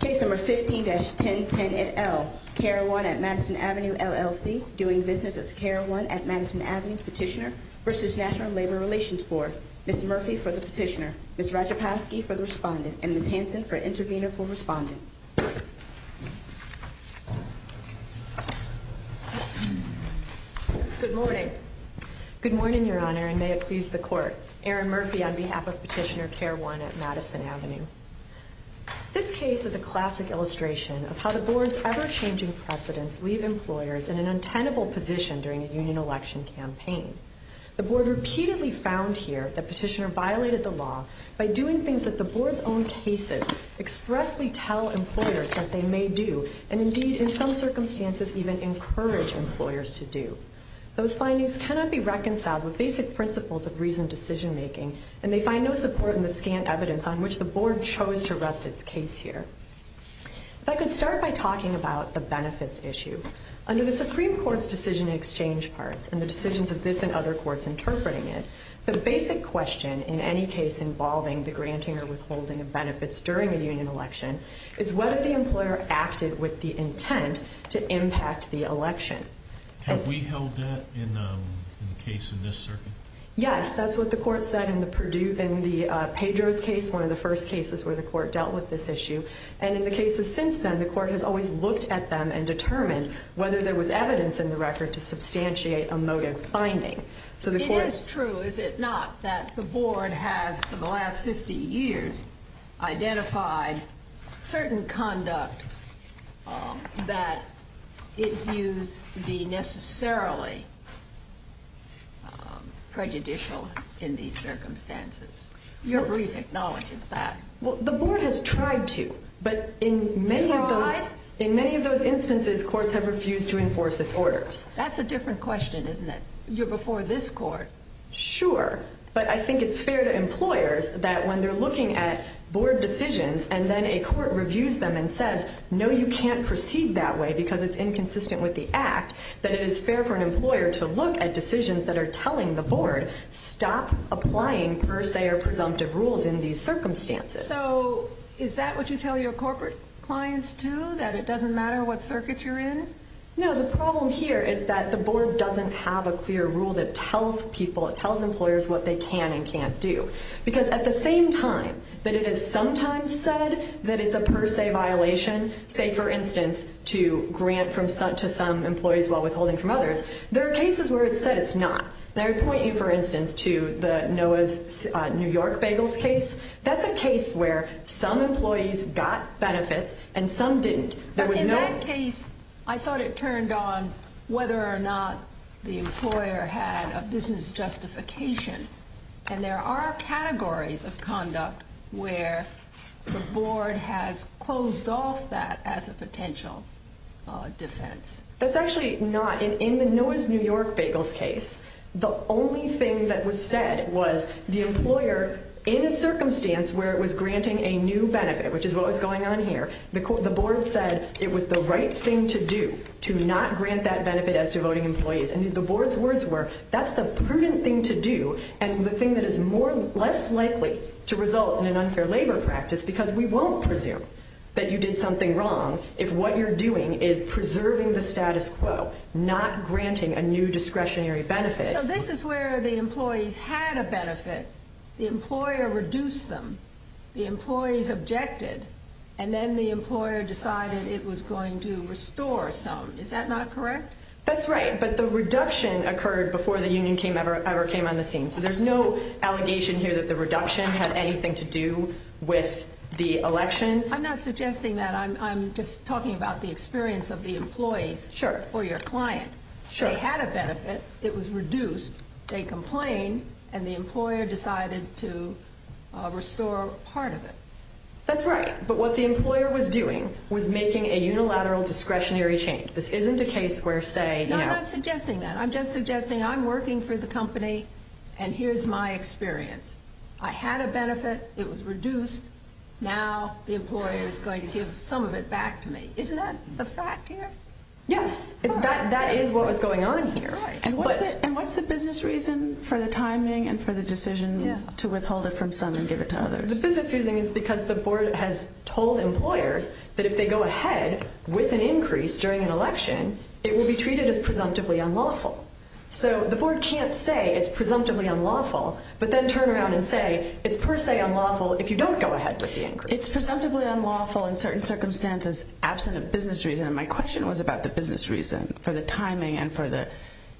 Case No. 15-1010 et al., CARE One at Madison Avenue, LLC, Doing Business as a CARE One at Madison Avenue Petitioner v. National Labor Relations Board Ms. Murphy for the Petitioner, Ms. Rajapowski for the Respondent, and Ms. Hanson for Intervener for Respondent Good morning. Good morning, Your Honor, and may it please the Court. Erin Murphy on behalf of Petitioner CARE One at Madison Avenue. This case is a classic illustration of how the Board's ever-changing precedents leave employers in an untenable position during a union election campaign. The Board repeatedly found here that Petitioner violated the law by doing things that the Board's own cases expressly tell employers that they may do, and indeed, in some circumstances, even encourage employers to do. Those findings cannot be reconciled with basic principles of reasoned decision-making, and they find no support in the scant evidence on which the Board chose to rest its case here. If I could start by talking about the benefits issue. Under the Supreme Court's decision in exchange parts, and the decisions of this and other courts interpreting it, the basic question in any case involving the granting or withholding of benefits during a union election is whether the employer acted with the intent to impact the election. Have we held that in the case in this circuit? Yes, that's what the Court said in the Pedro's case, one of the first cases where the Court dealt with this issue. And in the cases since then, the Court has always looked at them and determined whether there was evidence in the record to substantiate a motive finding. So the Court... It is true, is it not, that the Board has, for the last 50 years, identified certain conduct that it views to be necessarily prejudicial in these circumstances. Your brief acknowledges that. Well, the Board has tried to, but in many of those instances, courts have refused to enforce its orders. That's a different question, isn't it? You're before this Court. Sure, but I think it's fair to employers that when they're looking at Board decisions, and then a Court reviews them and says, no, you can't proceed that way because it's inconsistent with the Act, that it is fair for an employer to look at decisions that are telling the Board, stop applying per se or presumptive rules in these circumstances. So is that what you tell your corporate clients, too, that it doesn't matter what circuit you're in? No, the problem here is that the Board doesn't have a clear rule that tells people, it tells employers what they can and can't do. Because at the same time that it is sometimes said that it's a per se violation, say, for instance, to grant to some employees while withholding from others, there are cases where it's said it's not. And I would point you, for instance, to the Noah's New York Bagels case. That's a case where some employees got benefits and some didn't. But in that case, I thought it turned on whether or not the employer had a business justification. And there are categories of conduct where the Board has closed off that as a potential defense. That's actually not. In the Noah's New York Bagels case, the only thing that was said was the employer, in a circumstance where it was granting a new benefit, which is what was going on here, the Board said it was the right thing to do to not grant that benefit as to voting employees. And the Board's words were, that's the prudent thing to do and the thing that is less likely to result in an unfair labor practice, because we won't presume that you did something wrong if what you're doing is preserving the status quo, not granting a new discretionary benefit. So this is where the employees had a benefit, the employer reduced them, the employees objected, and then the employer decided it was going to restore some. Is that not correct? That's right. But the reduction occurred before the union ever came on the scene. So there's no allegation here that the reduction had anything to do with the election? I'm not suggesting that. I'm just talking about the experience of the employees. Sure. Or your client. Sure. They had a benefit, it was reduced, they complained, and the employer decided to restore part of it. That's right. But what the employer was doing was making a unilateral discretionary change. This isn't a case where, say, you know— I'm not suggesting that. I'm just suggesting I'm working for the company and here's my experience. I had a benefit, it was reduced, now the employer is going to give some of it back to me. Isn't that the fact here? Yes. That is what was going on here. And what's the business reason for the timing and for the decision to withhold it from some and give it to others? The business reason is because the board has told employers that if they go ahead with an increase during an election, it will be treated as presumptively unlawful. So the board can't say it's presumptively unlawful, but then turn around and say it's per se unlawful if you don't go ahead with the increase. It's presumptively unlawful in certain circumstances, absent a business reason. And my question was about the business reason for the timing and for the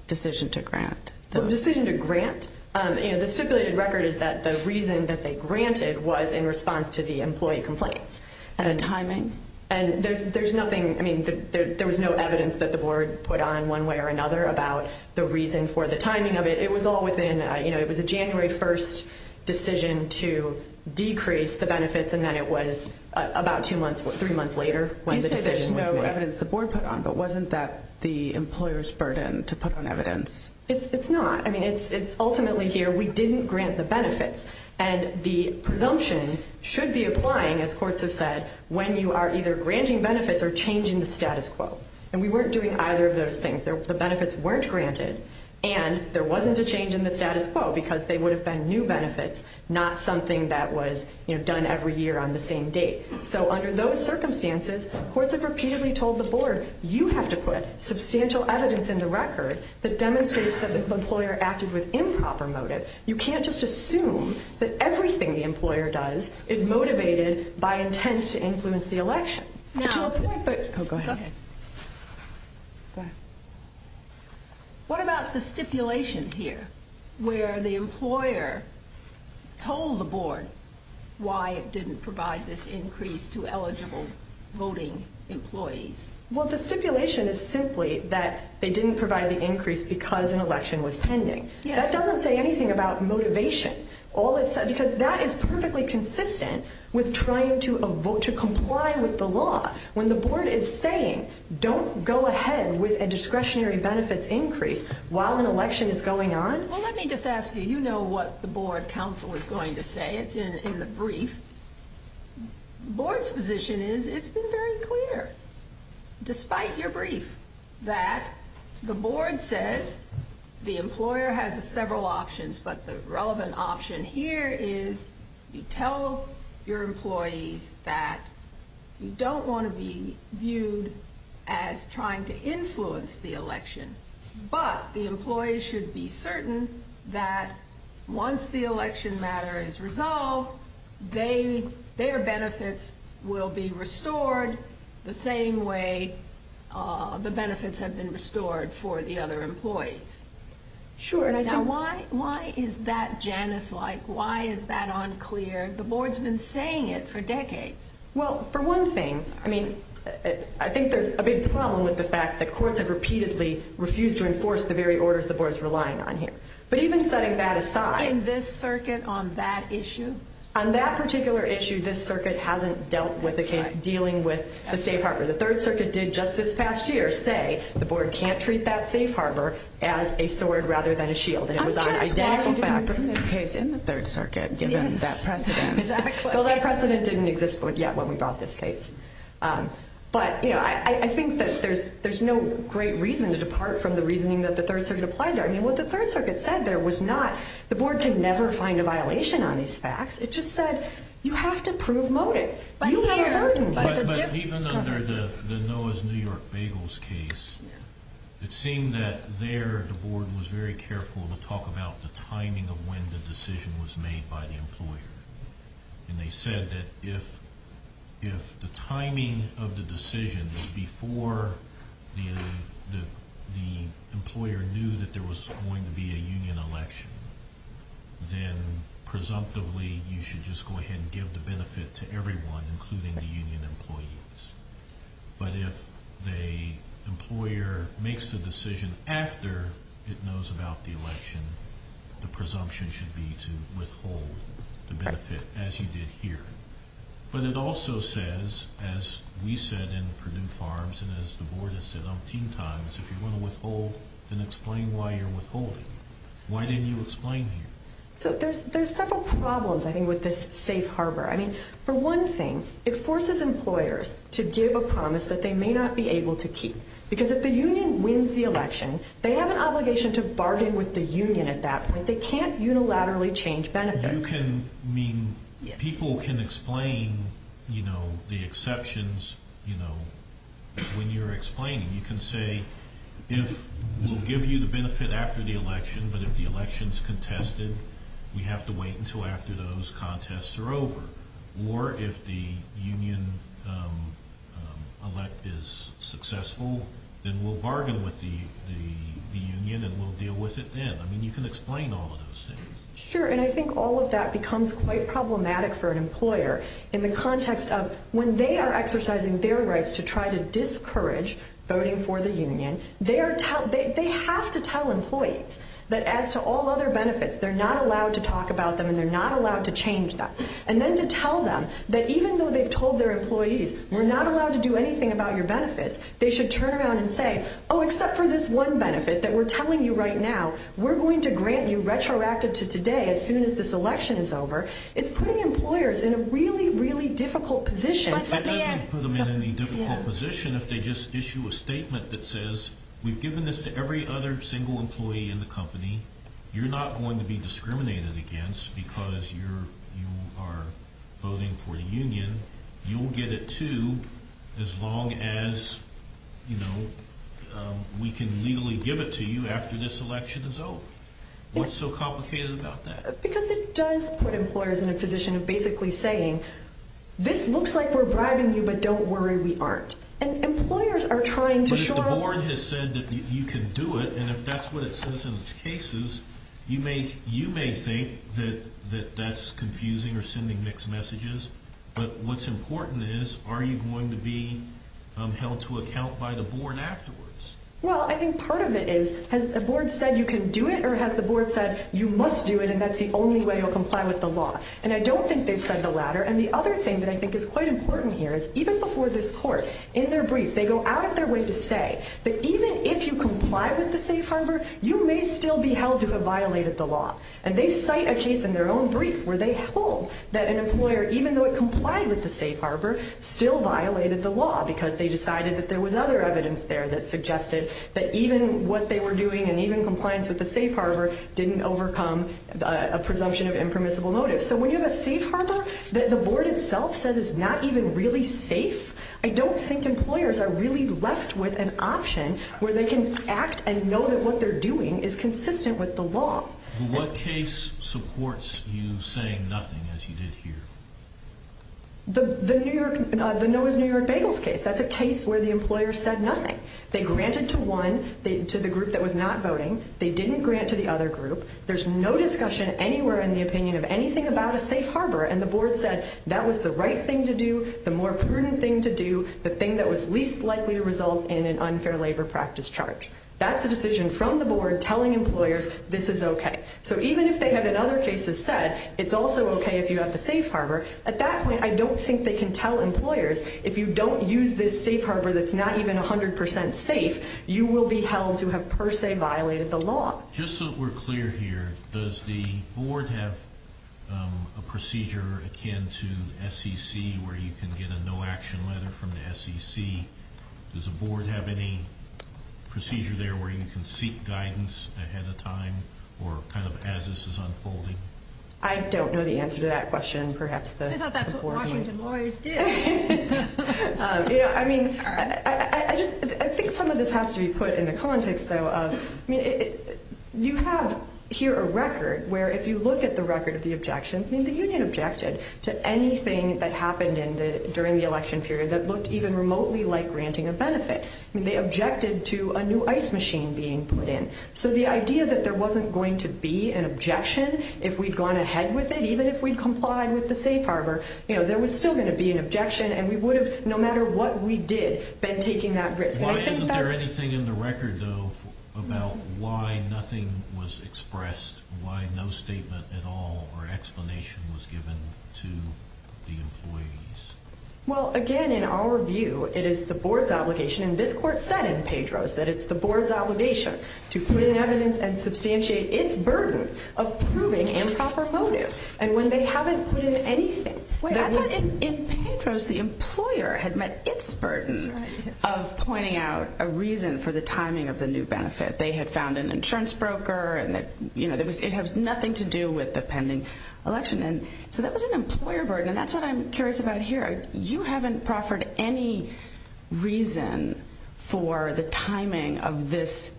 decision to grant. The decision to grant? The stipulated record is that the reason that they granted was in response to the employee complaints. And the timing? And there's nothing—I mean, there was no evidence that the board put on one way or another about the reason for the timing of it. It was all within—you know, it was a January 1st decision to decrease the benefits and then it was about two months, three months later when the decision was made. You say there's no evidence the board put on, but wasn't that the employer's burden to put on evidence? It's not. I mean, it's ultimately here we didn't grant the benefits. And the presumption should be applying, as courts have said, when you are either granting benefits or changing the status quo. And we weren't doing either of those things. The benefits weren't granted and there wasn't a change in the status quo because they would have been new benefits, not something that was, you know, done every year on the same date. So under those circumstances, courts have repeatedly told the board, you have to put substantial evidence in the record that demonstrates that the employer acted with improper motive. You can't just assume that everything the employer does is motivated by intent to influence the election. What about the stipulation here where the employer told the board why it didn't provide this increase to eligible voting employees? Well, the stipulation is simply that they didn't provide the increase because an election was pending. That doesn't say anything about motivation. Because that is perfectly consistent with trying to comply with the law. When the board is saying, don't go ahead with a discretionary benefits increase while an election is going on. Well, let me just ask you, you know what the board counsel is going to say. It's in the brief. The board's position is it's been very clear, despite your brief, that the board says the employer has several options. But the relevant option here is you tell your employees that you don't want to be viewed as trying to influence the election. But the employee should be certain that once the election matter is resolved, their benefits will be restored the same way the benefits have been restored for the other employees. Sure. Now, why is that Janice-like? Why is that unclear? The board's been saying it for decades. Well, for one thing, I mean, I think there's a big problem with the fact that courts have repeatedly refused to enforce the very orders the board is relying on here. But even setting that aside. In this circuit on that issue? On that particular issue, this circuit hasn't dealt with the case dealing with the safe harbor. The Third Circuit did just this past year say the board can't treat that safe harbor as a sword rather than a shield. And it was on identical backers. I'm just wondering in this case in the Third Circuit, given that precedent. Well, that precedent didn't exist yet when we brought this case. But, you know, I think that there's no great reason to depart from the reasoning that the Third Circuit applied there. I mean, what the Third Circuit said there was not the board can never find a violation on these facts. It just said you have to prove motive. But even under the Noah's New York Bagels case, it seemed that there the board was very careful to talk about the timing of when the decision was made by the employer. And they said that if the timing of the decision was before the employer knew that there was going to be a union election, then presumptively you should just go ahead and give the benefit to everyone, including the union employees. But if the employer makes the decision after it knows about the election, the presumption should be to withhold the benefit, as you did here. But it also says, as we said in Purdue Farms and as the board has said umpteen times, if you want to withhold, then explain why you're withholding. Why didn't you explain here? So there's several problems, I think, with this safe harbor. I mean, for one thing, it forces employers to give a promise that they may not be able to keep. Because if the union wins the election, they have an obligation to bargain with the union at that point. They can't unilaterally change benefits. You can mean people can explain, you know, the exceptions, you know, when you're explaining. You can say, if we'll give you the benefit after the election, but if the election's contested, we have to wait until after those contests are over. Or if the union elect is successful, then we'll bargain with the union and we'll deal with it then. I mean, you can explain all of those things. Sure, and I think all of that becomes quite problematic for an employer in the context of when they are exercising their rights to try to discourage voting for the union, they have to tell employees that as to all other benefits, they're not allowed to talk about them and they're not allowed to change them. And then to tell them that even though they've told their employees, we're not allowed to do anything about your benefits, they should turn around and say, oh, except for this one benefit that we're telling you right now, we're going to grant you retroactive to today as soon as this election is over. It's putting employers in a really, really difficult position. It doesn't put them in any difficult position if they just issue a statement that says, we've given this to every other single employee in the company. You're not going to be discriminated against because you are voting for the union. You'll get it, too, as long as, you know, we can legally give it to you after this election is over. What's so complicated about that? Because it does put employers in a position of basically saying, this looks like we're bribing you, but don't worry, we aren't. And employers are trying to show... The board has said that you can do it, and if that's what it says in its cases, you may think that that's confusing or sending mixed messages. But what's important is, are you going to be held to account by the board afterwards? Well, I think part of it is, has the board said you can do it or has the board said you must do it and that's the only way you'll comply with the law? And I don't think they've said the latter. And the other thing that I think is quite important here is, even before this court, in their brief, they go out of their way to say that even if you comply with the safe harbor, you may still be held to have violated the law. And they cite a case in their own brief where they hold that an employer, even though it complied with the safe harbor, still violated the law because they decided that there was other evidence there that suggested that even what they were doing and even compliance with the safe harbor didn't overcome a presumption of impermissible motives. So when you have a safe harbor that the board itself says is not even really safe, I don't think employers are really left with an option where they can act and know that what they're doing is consistent with the law. What case supports you saying nothing, as you did here? The Noah's New York Bagels case. That's a case where the employer said nothing. They granted to one, to the group that was not voting. They didn't grant to the other group. There's no discussion anywhere in the opinion of anything about a safe harbor, and the board said that was the right thing to do, the more prudent thing to do, the thing that was least likely to result in an unfair labor practice charge. That's a decision from the board telling employers this is okay. So even if they have in other cases said it's also okay if you have the safe harbor, at that point I don't think they can tell employers if you don't use this safe harbor that's not even 100% safe, you will be held to have per se violated the law. Just so that we're clear here, does the board have a procedure akin to SEC where you can get a no action letter from the SEC? Does the board have any procedure there where you can seek guidance ahead of time or kind of as this is unfolding? I don't know the answer to that question. I thought that's what Washington lawyers did. I think some of this has to be put in the context, though. You have here a record where if you look at the record of the objections, the union objected to anything that happened during the election period that looked even remotely like granting a benefit. They objected to a new ice machine being put in. So the idea that there wasn't going to be an objection if we'd gone ahead with it, if we'd complied with the safe harbor, there was still going to be an objection, and we would have, no matter what we did, been taking that risk. Why isn't there anything in the record, though, about why nothing was expressed, why no statement at all or explanation was given to the employees? Well, again, in our view, it is the board's obligation, and this court said in Pedro's that it's the board's obligation to put in evidence and substantiate its burden of proving improper motive. And when they haven't put in anything, wait, I thought in Pedro's the employer had met its burden of pointing out a reason for the timing of the new benefit. They had found an insurance broker, and it has nothing to do with the pending election. And so that was an employer burden, and that's what I'm curious about here. You haven't proffered any reason for the timing of this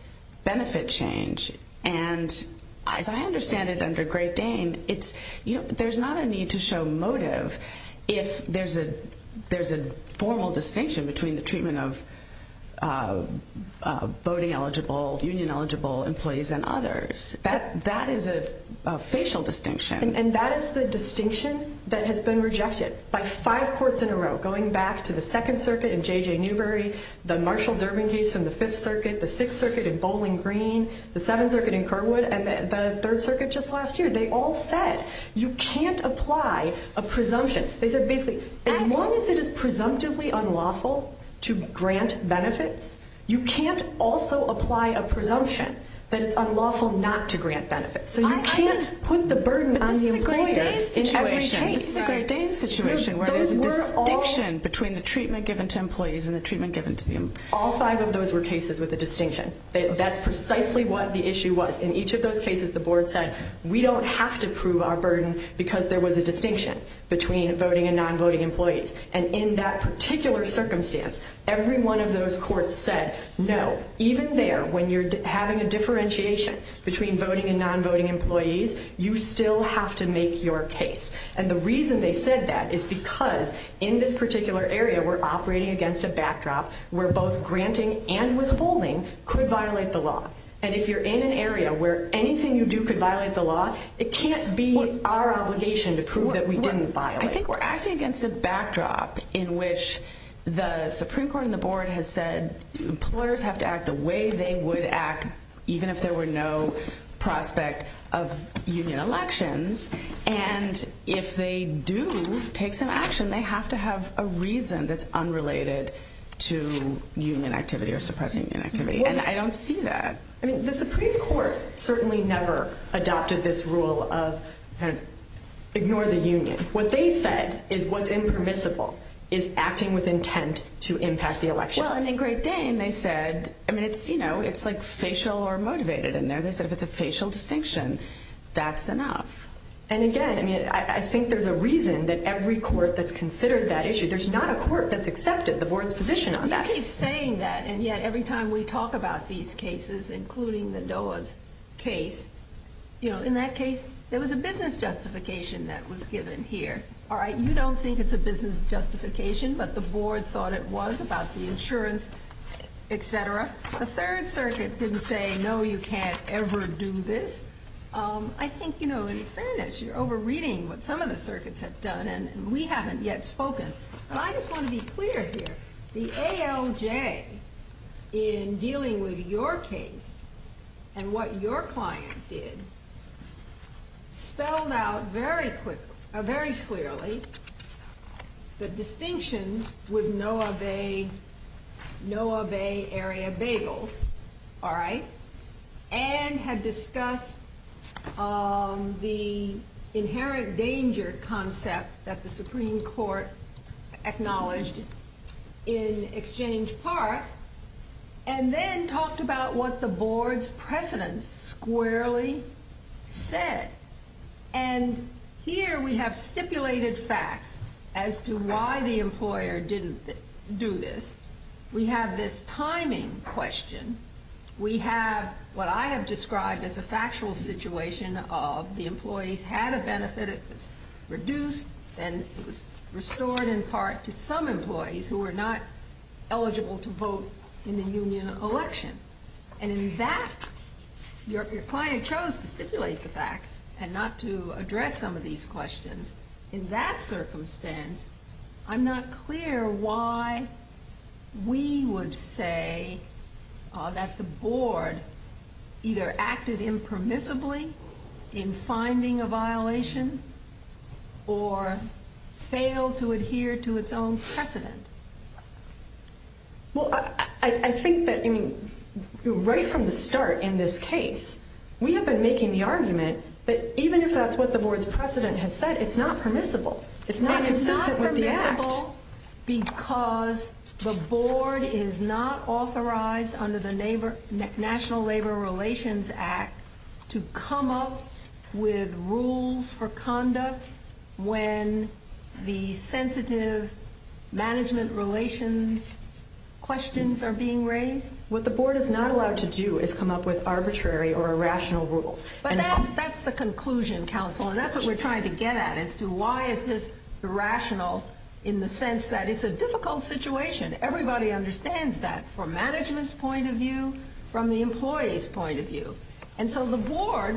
benefit change. And as I understand it under Gray-Dane, there's not a need to show motive if there's a formal distinction between the treatment of voting-eligible, union-eligible employees and others. That is a facial distinction. And that is the distinction that has been rejected by five courts in a row, going back to the Second Circuit in J.J. Newbery, the Marshall-Durbin case from the Fifth Circuit, the Sixth Circuit in Bowling Green, the Seventh Circuit in Kerwood, and the Third Circuit just last year. They all said you can't apply a presumption. They said basically as long as it is presumptively unlawful to grant benefits, you can't also apply a presumption that it's unlawful not to grant benefits. So you can't put the burden on the employer in every case. But this is a Gray-Dane situation. This is a Gray-Dane situation where there's a distinction between the treatment given to employees All five of those were cases with a distinction. That's precisely what the issue was. In each of those cases, the board said we don't have to prove our burden because there was a distinction between voting and non-voting employees. And in that particular circumstance, every one of those courts said no. Even there, when you're having a differentiation between voting and non-voting employees, you still have to make your case. And the reason they said that is because in this particular area, we're operating against a backdrop where both granting and withholding could violate the law. And if you're in an area where anything you do could violate the law, it can't be our obligation to prove that we didn't violate. I think we're acting against a backdrop in which the Supreme Court and the board have said employers have to act the way they would act even if there were no prospect of union elections. And if they do take some action, they have to have a reason that's unrelated to union activity or suppressing union activity. And I don't see that. I mean, the Supreme Court certainly never adopted this rule of ignore the union. What they said is what's impermissible is acting with intent to impact the election. Well, and in Great Dane, they said, I mean, it's like facial or motivated in there. They said if it's a facial distinction, that's enough. And again, I mean, I think there's a reason that every court that's considered that issue, there's not a court that's accepted the board's position on that. You keep saying that, and yet every time we talk about these cases, including the Doa's case, you know, in that case, there was a business justification that was given here. All right, you don't think it's a business justification, but the board thought it was about the insurance, et cetera. The Third Circuit didn't say, no, you can't ever do this. I think, you know, in fairness, you're over-reading what some of the circuits have done, and we haven't yet spoken. But I just want to be clear here. The ALJ, in dealing with your case and what your client did, spelled out very clearly the distinction with Noah Bay Area Bagels, all right, and had discussed the inherent danger concept that the Supreme Court acknowledged in exchange parts, and then talked about what the board's precedents squarely said. And here we have stipulated facts as to why the employer didn't do this. We have this timing question. We have what I have described as a factual situation of the employees had a benefit. It was reduced and it was restored in part to some employees who were not eligible to vote in the union election. And in that, your client chose to stipulate the facts and not to address some of these questions. In that circumstance, I'm not clear why we would say that the board either acted impermissibly in finding a violation or failed to adhere to its own precedent. Well, I think that, I mean, right from the start in this case, we have been making the argument that even if that's what the board's precedent has said, it's not permissible. It's not consistent with the act. Because the board is not authorized under the National Labor Relations Act to come up with rules for conduct when the sensitive management relations questions are being raised? What the board is not allowed to do is come up with arbitrary or irrational rules. But that's the conclusion, counsel, and that's what we're trying to get at, as to why is this irrational in the sense that it's a difficult situation. Everybody understands that from management's point of view, from the employee's point of view. And so the board,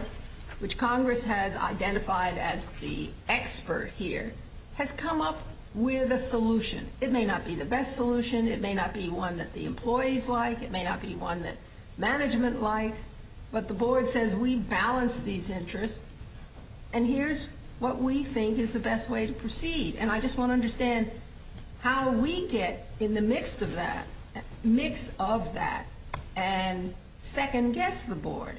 which Congress has identified as the expert here, has come up with a solution. It may not be the best solution. It may not be one that the employees like. It may not be one that management likes. But the board says we balance these interests, and here's what we think is the best way to proceed. And I just want to understand how we get in the midst of that, mix of that, and second-guess the board.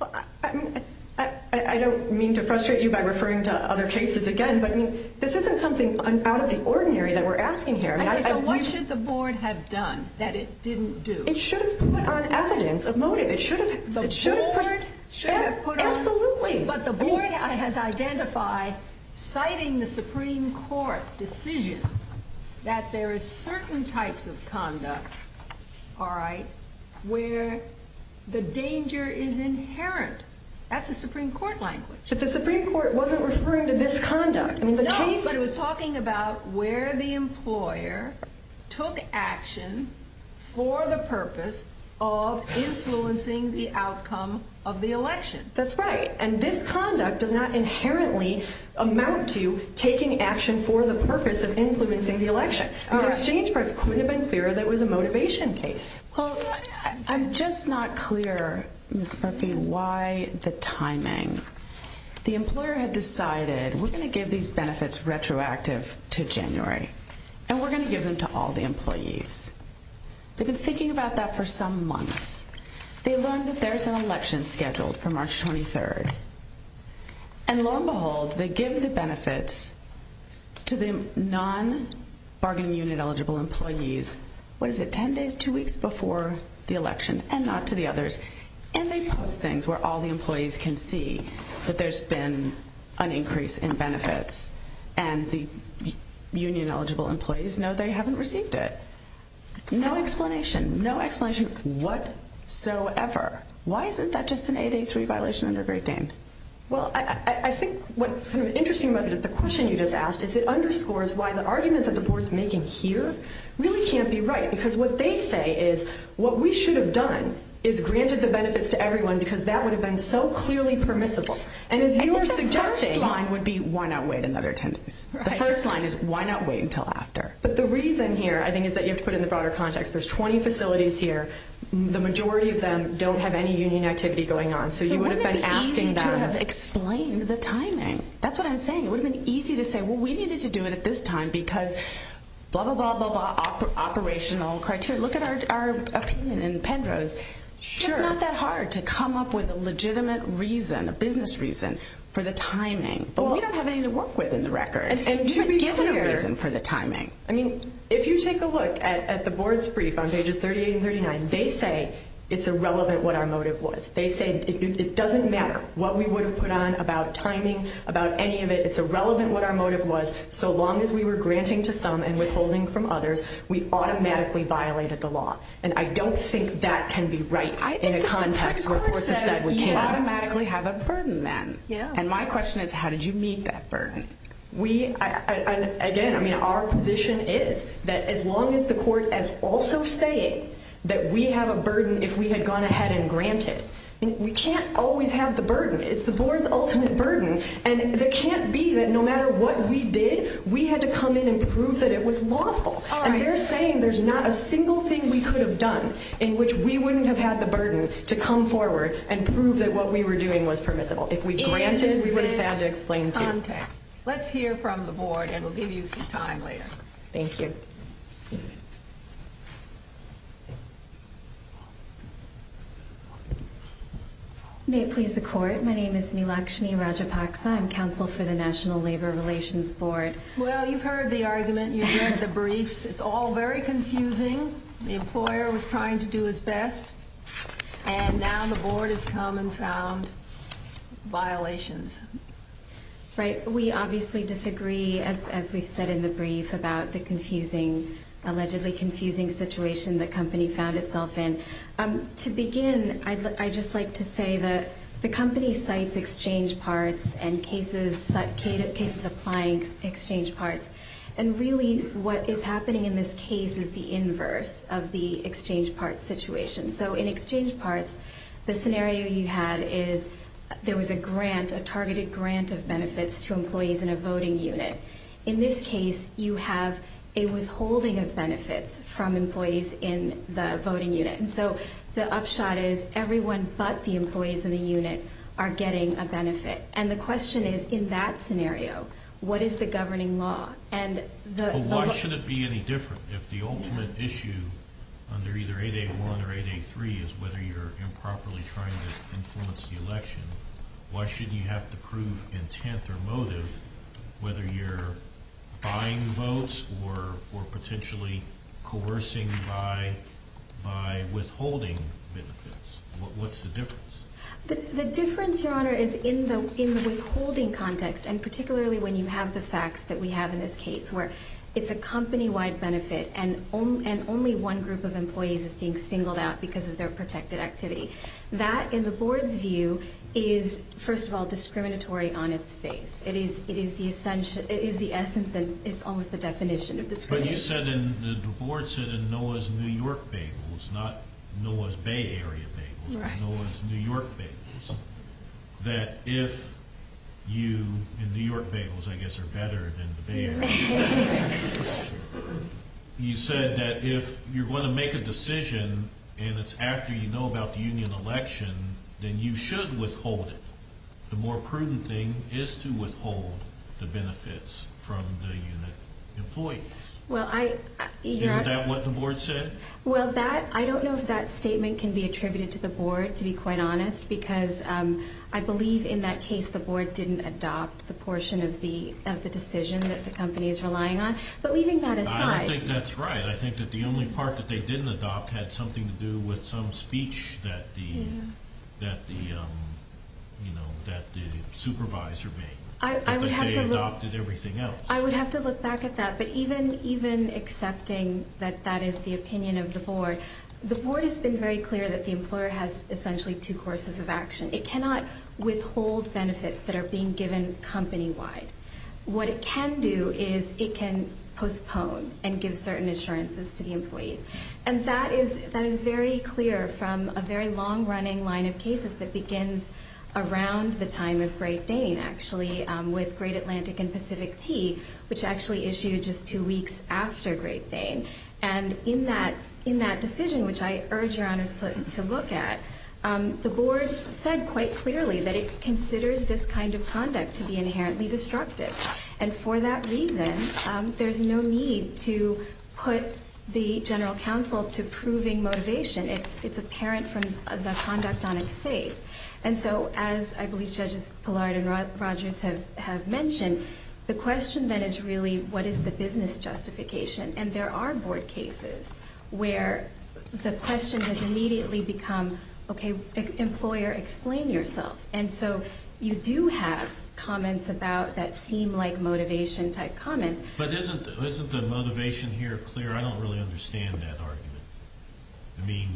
I don't mean to frustrate you by referring to other cases again, but this isn't something out of the ordinary that we're asking here. Okay, so what should the board have done that it didn't do? It should have put on evidence of motive. It should have. The board should have put on- Absolutely. But the board has identified, citing the Supreme Court decision, that there are certain types of conduct, all right, where the danger is inherent. That's the Supreme Court language. But the Supreme Court wasn't referring to this conduct. No, but it was talking about where the employer took action for the purpose of influencing the outcome of the election. That's right, and this conduct does not inherently amount to taking action for the purpose of influencing the election. The exchange price couldn't have been clearer that it was a motivation case. Well, I'm just not clear, Ms. Murphy, why the timing. The employer had decided, we're going to give these benefits retroactive to January, and we're going to give them to all the employees. They've been thinking about that for some months. They learned that there's an election scheduled for March 23rd. And lo and behold, they give the benefits to the non-bargaining unit eligible employees, what is it, 10 days, 2 weeks before the election, and not to the others. And they post things where all the employees can see that there's been an increase in benefits, and the union eligible employees know they haven't received it. No explanation, no explanation whatsoever. Why isn't that just an 883 violation under Great Dane? Well, I think what's interesting about the question you just asked is it underscores why the argument that the board's making here really can't be right, because what they say is what we should have done is granted the benefits to everyone, because that would have been so clearly permissible. And as you were suggesting... I think the first line would be, why not wait another 10 days? The first line is, why not wait until after? But the reason here, I think, is that you have to put it in the broader context. There's 20 facilities here. The majority of them don't have any union activity going on, so you would have been asking them... So wouldn't it be easy to have explained the timing? That's what I'm saying. It would have been easy to say, well, we needed to do it at this time, because blah, blah, blah, blah, operational criteria. Look at our opinion in PENDRO's. It's just not that hard to come up with a legitimate reason, a business reason, for the timing. But we don't have anything to work with in the record. And you've been given a reason for the timing. I mean, if you take a look at the board's brief on pages 38 and 39, they say it's irrelevant what our motive was. They say it doesn't matter what we would have put on about timing, about any of it. It's irrelevant what our motive was, so long as we were granting to some and withholding from others, we automatically violated the law. And I don't think that can be right in a context where courts have said we can't. I think the Supreme Court says you automatically have a burden, then. And my question is, how did you meet that burden? Again, our position is that as long as the court is also saying that we have a burden if we had gone ahead and granted, we can't always have the burden. It's the board's ultimate burden. And it can't be that no matter what we did, we had to come in and prove that it was lawful. And they're saying there's not a single thing we could have done in which we wouldn't have had the burden to come forward and prove that what we were doing was permissible. If we granted, we would have had to explain, too. In this context. Let's hear from the board, and we'll give you some time later. Thank you. May it please the court. My name is Neelakshmi Rajapaksa. I'm counsel for the National Labor Relations Board. Well, you've heard the argument. You've read the briefs. It's all very confusing. The employer was trying to do its best, and now the board has come and found violations. Right. We obviously disagree, as we've said in the brief, about the confusing, allegedly confusing situation the company found itself in. To begin, I'd just like to say that the company cites exchange parts and cases applying exchange parts. And really, what is happening in this case is the inverse of the exchange parts situation. So in exchange parts, the scenario you had is there was a grant, a targeted grant of benefits to employees in a voting unit. In this case, you have a withholding of benefits from employees in the voting unit. And so the upshot is everyone but the employees in the unit are getting a benefit. And the question is, in that scenario, what is the governing law? But why should it be any different? If the ultimate issue under either 8A1 or 8A3 is whether you're improperly trying to influence the election, why should you have to prove intent or motive whether you're buying votes or potentially coercing by withholding benefits? What's the difference? The difference, Your Honor, is in the withholding context, and particularly when you have the facts that we have in this case, where it's a company-wide benefit and only one group of employees is being singled out because of their protected activity. That, in the Board's view, is, first of all, discriminatory on its face. It is the essence and it's almost the definition of discrimination. But you said, and the Board said in Noah's New York bagels, not Noah's Bay Area bagels, but Noah's New York bagels, that if you, in New York bagels, I guess are better than the Bay Area bagels, you said that if you're going to make a decision and it's after you know about the union election, then you should withhold it. The more prudent thing is to withhold the benefits from the unit employees. Isn't that what the Board said? Well, I don't know if that statement can be attributed to the Board, to be quite honest, because I believe in that case the Board didn't adopt the portion of the decision that the company is relying on. But leaving that aside... I don't think that's right. I think that the only part that they didn't adopt had something to do with some speech that the supervisor made. I would have to look... But they adopted everything else. I would have to look back at that. But even accepting that that is the opinion of the Board, the Board has been very clear that the employer has essentially two courses of action. It cannot withhold benefits that are being given company-wide. What it can do is it can postpone and give certain assurances to the employees. And that is very clear from a very long-running line of cases that begins around the time of Great Dane, actually, with Great Atlantic and Pacific Tea, which actually issued just two weeks after Great Dane. And in that decision, which I urge Your Honors to look at, the Board said quite clearly that it considers this kind of conduct to be inherently destructive. And for that reason, there's no need to put the general counsel to proving motivation. It's apparent from the conduct on its face. And so as I believe Judges Pillard and Rogers have mentioned, the question then is really what is the business justification? And there are Board cases where the question has immediately become, okay, employer, explain yourself. And so you do have comments about that seem like motivation-type comments. But isn't the motivation here clear? I don't really understand that argument. I mean,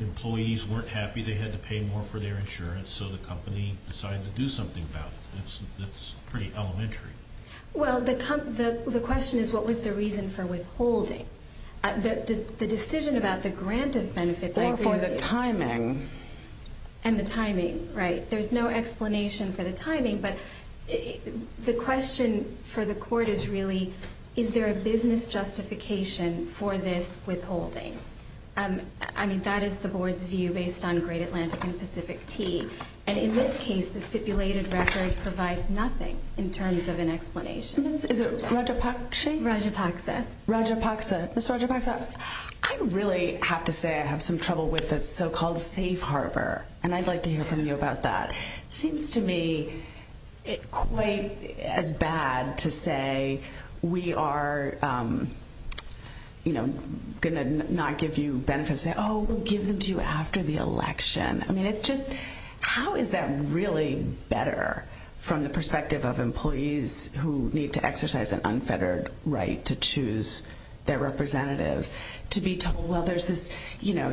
employees weren't happy they had to pay more for their insurance, so the company decided to do something about it. That's pretty elementary. Well, the question is what was the reason for withholding? The decision about the grant of benefits, I agree with you. Or for the timing. And the timing, right. There's no explanation for the timing. But the question for the court is really, is there a business justification for this withholding? I mean, that is the Board's view based on Great Atlantic and Pacific Tea. And in this case, the stipulated record provides nothing in terms of an explanation. Is it Raja Paksha? Raja Paksha. Raja Paksha. Ms. Raja Paksha, I really have to say I have some trouble with the so-called safe harbor. And I'd like to hear from you about that. It seems to me quite as bad to say we are, you know, going to not give you benefits. Oh, we'll give them to you after the election. I mean, it just, how is that really better from the perspective of employees who need to exercise an unfettered right to choose their representatives? To be told, well, there's this, you know,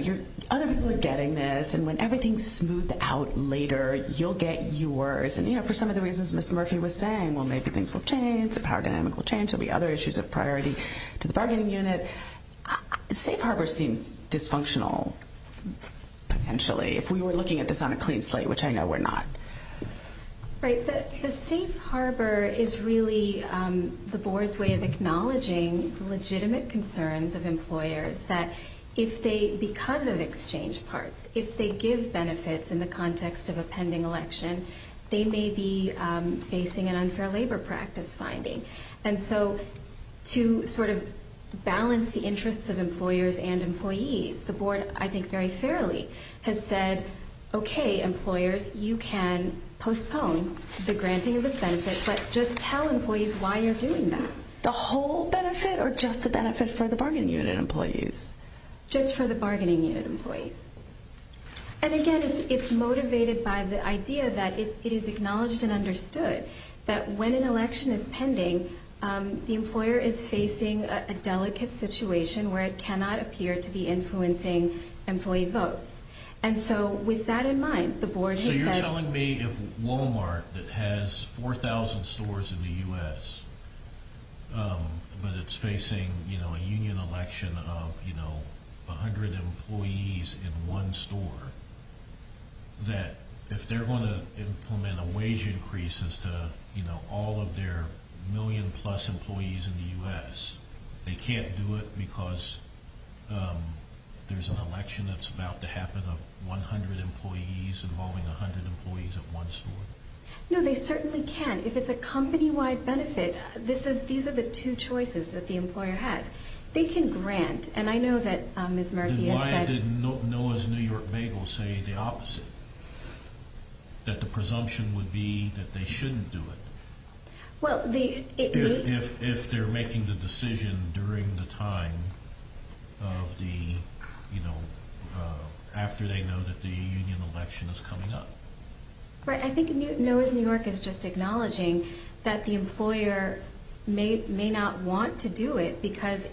other people are getting this. And when everything's smoothed out later, you'll get yours. And, you know, for some of the reasons Ms. Murphy was saying, well, maybe things will change. The power dynamic will change. There will be other issues of priority to the bargaining unit. Safe harbor seems dysfunctional, potentially, if we were looking at this on a clean slate, which I know we're not. Right. The safe harbor is really the board's way of acknowledging legitimate concerns of employers that if they, because of exchange parts, if they give benefits in the context of a pending election, they may be facing an unfair labor practice finding. And so to sort of balance the interests of employers and employees, the board, I think very fairly, has said, okay, employers, you can postpone the granting of this benefit, but just tell employees why you're doing that. The whole benefit or just the benefit for the bargaining unit employees? Just for the bargaining unit employees. And, again, it's motivated by the idea that it is acknowledged and understood that when an election is pending, the employer is facing a delicate situation where it cannot appear to be influencing employee votes. And so with that in mind, the board has said… So you're telling me if Walmart that has 4,000 stores in the U.S., but it's facing a union election of 100 employees in one store, that if they're going to implement a wage increase as to all of their million-plus employees in the U.S., they can't do it because there's an election that's about to happen of 100 employees involving 100 employees at one store? No, they certainly can. If it's a company-wide benefit, these are the two choices that the employer has. They can grant. And I know that Ms. Murphy has said… Then why did Noah's New York Bagel say the opposite, that the presumption would be that they shouldn't do it? If they're making the decision during the time of the, you know, after they know that the union election is coming up. Right, I think Noah's New York is just acknowledging that the employer may not want to do it because,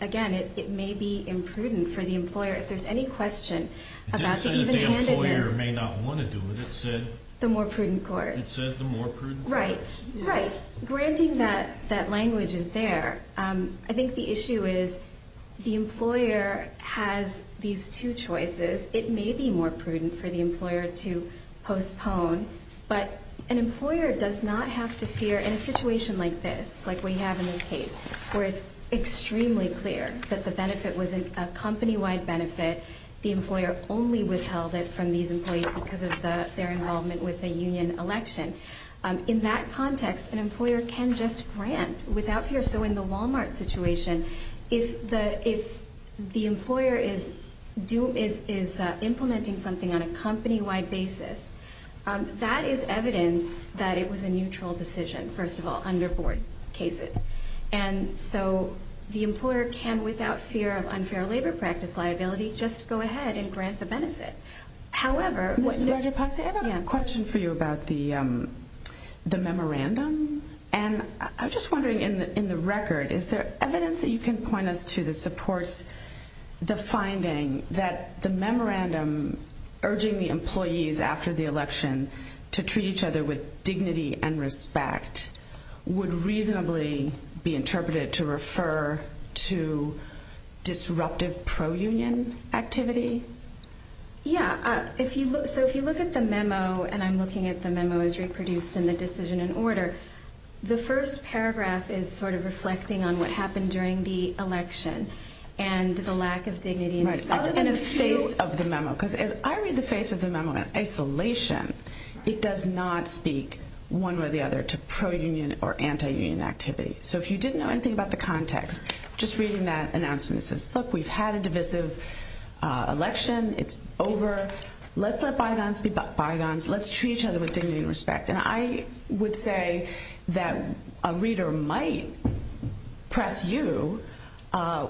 again, it may be imprudent for the employer. If there's any question about the even-handedness… It didn't say that the employer may not want to do it. It said… The more prudent course. It said the more prudent course. Right, right. Granting that language is there. I think the issue is the employer has these two choices. It may be more prudent for the employer to postpone, but an employer does not have to fear in a situation like this, like we have in this case, where it's extremely clear that the benefit was a company-wide benefit. The employer only withheld it from these employees because of their involvement with the union election. In that context, an employer can just grant without fear. So in the Walmart situation, if the employer is implementing something on a company-wide basis, that is evidence that it was a neutral decision, first of all, under board cases. And so the employer can, without fear of unfair labor practice liability, just go ahead and grant the benefit. I have a question for you about the memorandum. And I'm just wondering, in the record, is there evidence that you can point us to that supports the finding that the memorandum urging the employees after the election to treat each other with dignity and respect would reasonably be interpreted to refer to disruptive pro-union activity? Yeah. So if you look at the memo, and I'm looking at the memo as reproduced in the decision in order, the first paragraph is sort of reflecting on what happened during the election and the lack of dignity and respect. I'll look at the face of the memo, because as I read the face of the memo in isolation, it does not speak one way or the other to pro-union or anti-union activity. So if you didn't know anything about the context, just reading that announcement, it says, look, we've had a divisive election. It's over. Let's let bygones be bygones. Let's treat each other with dignity and respect. And I would say that a reader might press you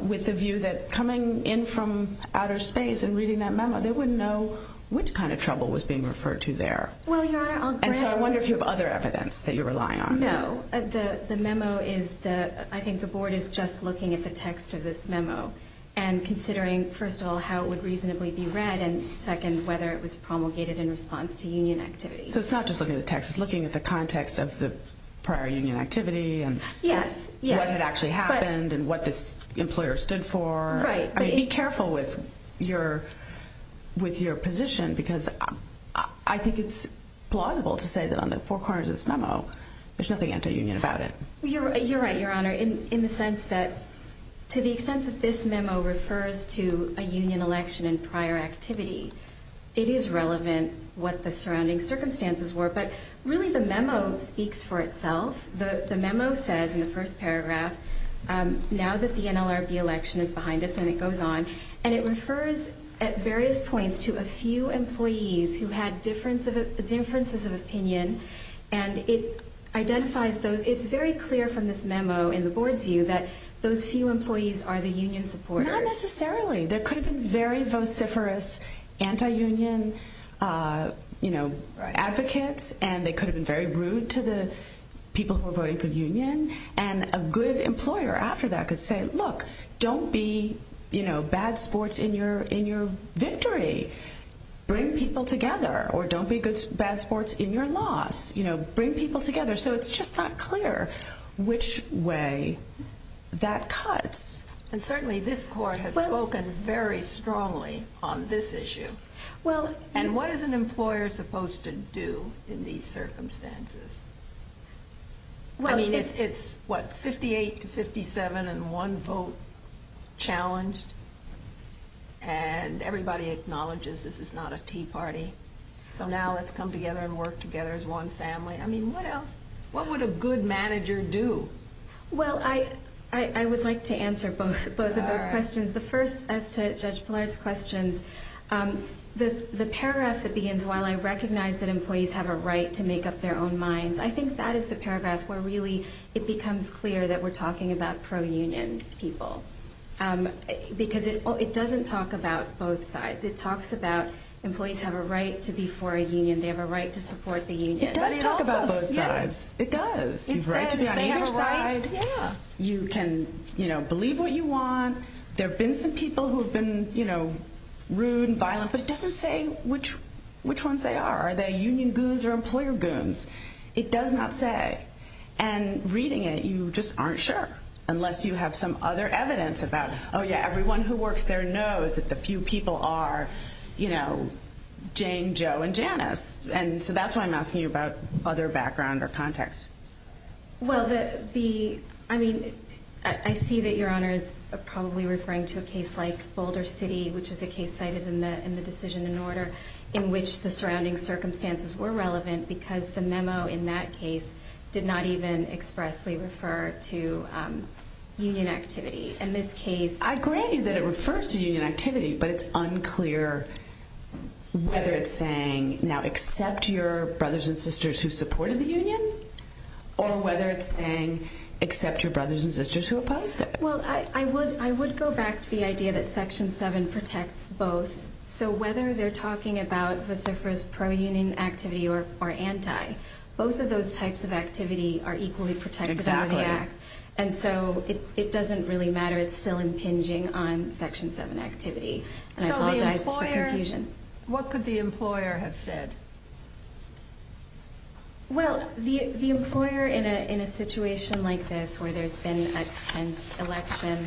with the view that coming in from outer space and reading that memo, they wouldn't know which kind of trouble was being referred to there. Well, Your Honor, I'll grant— And so I wonder if you have other evidence that you're relying on. No. The memo is the—I think the Board is just looking at the text of this memo and considering, first of all, how it would reasonably be read, and second, whether it was promulgated in response to union activity. So it's not just looking at the text. It's looking at the context of the prior union activity and— Yes. Yes. —what had actually happened and what this employer stood for. Right. I mean, be careful with your position because I think it's plausible to say that on the four corners of this memo, there's nothing anti-union about it. You're right, Your Honor, in the sense that to the extent that this memo refers to a union election and prior activity, it is relevant what the surrounding circumstances were. But really, the memo speaks for itself. The memo says in the first paragraph, now that the NLRB election is behind us, and it goes on, and it refers at various points to a few employees who had differences of opinion, and it identifies those. It's very clear from this memo in the Board's view that those few employees are the union supporters. Not necessarily. There could have been very vociferous anti-union, you know, advocates, and they could have been very rude to the people who were voting for the union. And a good employer after that could say, look, don't be, you know, bad sports in your victory. Bring people together. Or don't be bad sports in your loss. You know, bring people together. So it's just not clear which way that cuts. And certainly this Court has spoken very strongly on this issue. And what is an employer supposed to do in these circumstances? I mean, it's, what, 58 to 57 and one vote challenged? And everybody acknowledges this is not a tea party. So now let's come together and work together as one family. I mean, what else? What would a good manager do? Well, I would like to answer both of those questions. The first, as to Judge Blard's questions, the paragraph that begins, while I recognize that employees have a right to make up their own minds, I think that is the paragraph where really it becomes clear that we're talking about pro-union people. Because it doesn't talk about both sides. It talks about employees have a right to be for a union. They have a right to support the union. It does talk about both sides. It does. It says they have a right. You can, you know, believe what you want. There have been some people who have been, you know, rude and violent, but it doesn't say which ones they are. Are they union goons or employer goons? It does not say. And reading it, you just aren't sure unless you have some other evidence about, oh, yeah, everyone who works there knows that the few people are, you know, Jane, Joe, and Janice. And so that's why I'm asking you about other background or context. Well, the ‑‑ I mean, I see that Your Honor is probably referring to a case like Boulder City, which is a case cited in the decision in order in which the surrounding circumstances were relevant because the memo in that case did not even expressly refer to union activity. In this case ‑‑ I grant you that it refers to union activity, but it's unclear whether it's saying now accept your brothers and sisters who supported the union or whether it's saying accept your brothers and sisters who opposed it. Well, I would go back to the idea that Section 7 protects both. So whether they're talking about vociferous pro‑union activity or anti, both of those types of activity are equally protected under the Act. Exactly. And so it doesn't really matter. It's still impinging on Section 7 activity. And I apologize for confusion. What could the employer have said? Well, the employer in a situation like this where there's been a tense election,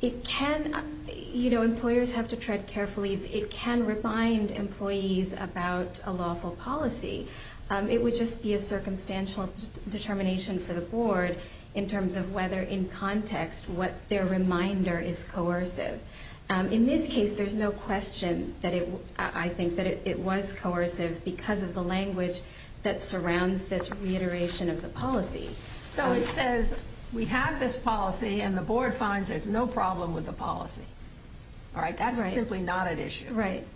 it can ‑‑ you know, employers have to tread carefully. It can remind employees about a lawful policy. It would just be a circumstantial determination for the board in terms of whether in context what their reminder is coercive. In this case, there's no question that it ‑‑ I think that it was coercive because of the language that surrounds this reiteration of the policy. So it says we have this policy and the board finds there's no problem with the policy. All right? That's simply not at issue. Right.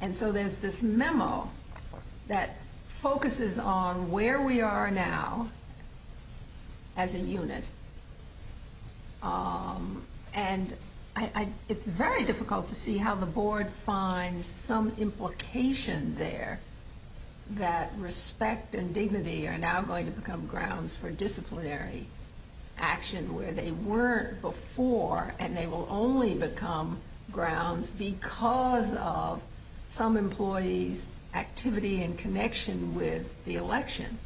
And so there's this memo that focuses on where we are now as a unit. And it's very difficult to see how the board finds some implication there that respect and dignity are now going to become grounds for disciplinary action where they weren't before and they will only become grounds because of some employee's activity and connection with the election.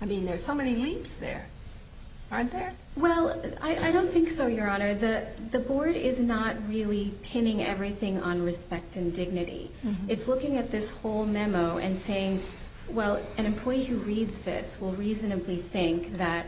I mean, there's so many leaps there. Aren't there? Well, I don't think so, Your Honor. The board is not really pinning everything on respect and dignity. It's looking at this whole memo and saying, well, an employee who reads this will reasonably think that,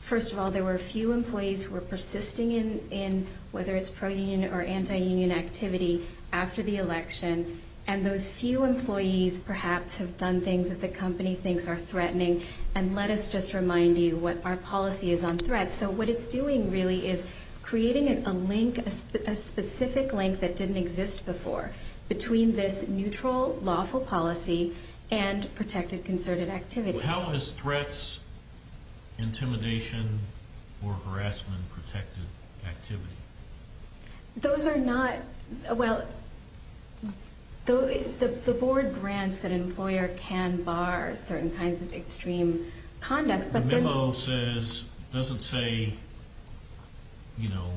first of all, there were a few employees who were persisting in, whether it's pro‑union or anti‑union activity after the election, and those few employees perhaps have done things that the company thinks are threatening. And let us just remind you what our policy is on threats. So what it's doing really is creating a link, a specific link that didn't exist before between this neutral, lawful policy and protected concerted activity. How is threats, intimidation, or harassment protected activity? Those are not—well, the board grants that an employer can bar certain kinds of extreme conduct, but then— The memo says, doesn't say, you know,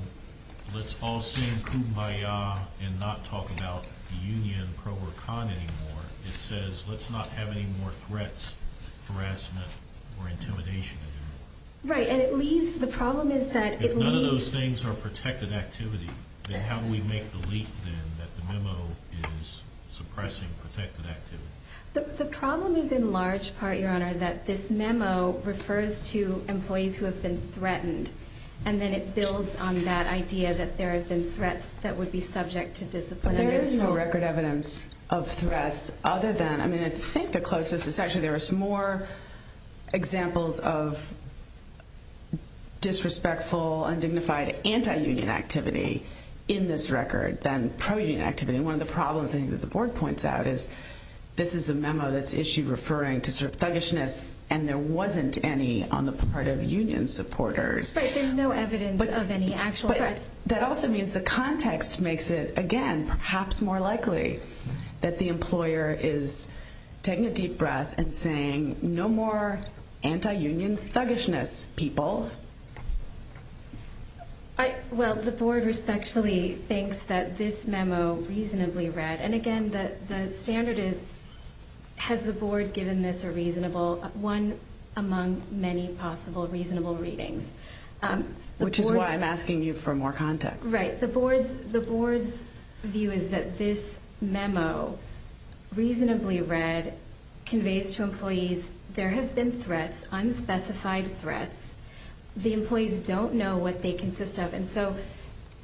let's all sing Kumbaya and not talk about union, pro or con anymore. It says let's not have any more threats, harassment, or intimidation anymore. Right, and it leaves—the problem is that it leaves— If none of those things are protected activity, then how do we make the leap then that the memo is suppressing protected activity? The problem is in large part, Your Honor, that this memo refers to employees who have been threatened, and then it builds on that idea that there have been threats that would be subject to discipline. There is no record evidence of threats other than— I mean, I think the closest is actually there is more examples of disrespectful, undignified, anti-union activity in this record than pro-union activity. One of the problems I think that the board points out is this is a memo that's issued referring to sort of thuggishness, and there wasn't any on the part of union supporters. Right, there's no evidence of any actual threats. That also means the context makes it, again, perhaps more likely that the employer is taking a deep breath and saying no more anti-union thuggishness, people. Well, the board respectfully thinks that this memo reasonably read, and again, the standard is has the board given this a reasonable— one among many possible reasonable readings. Which is why I'm asking you for more context. Right. The board's view is that this memo reasonably read conveys to employees there have been threats, unspecified threats. The employees don't know what they consist of, and so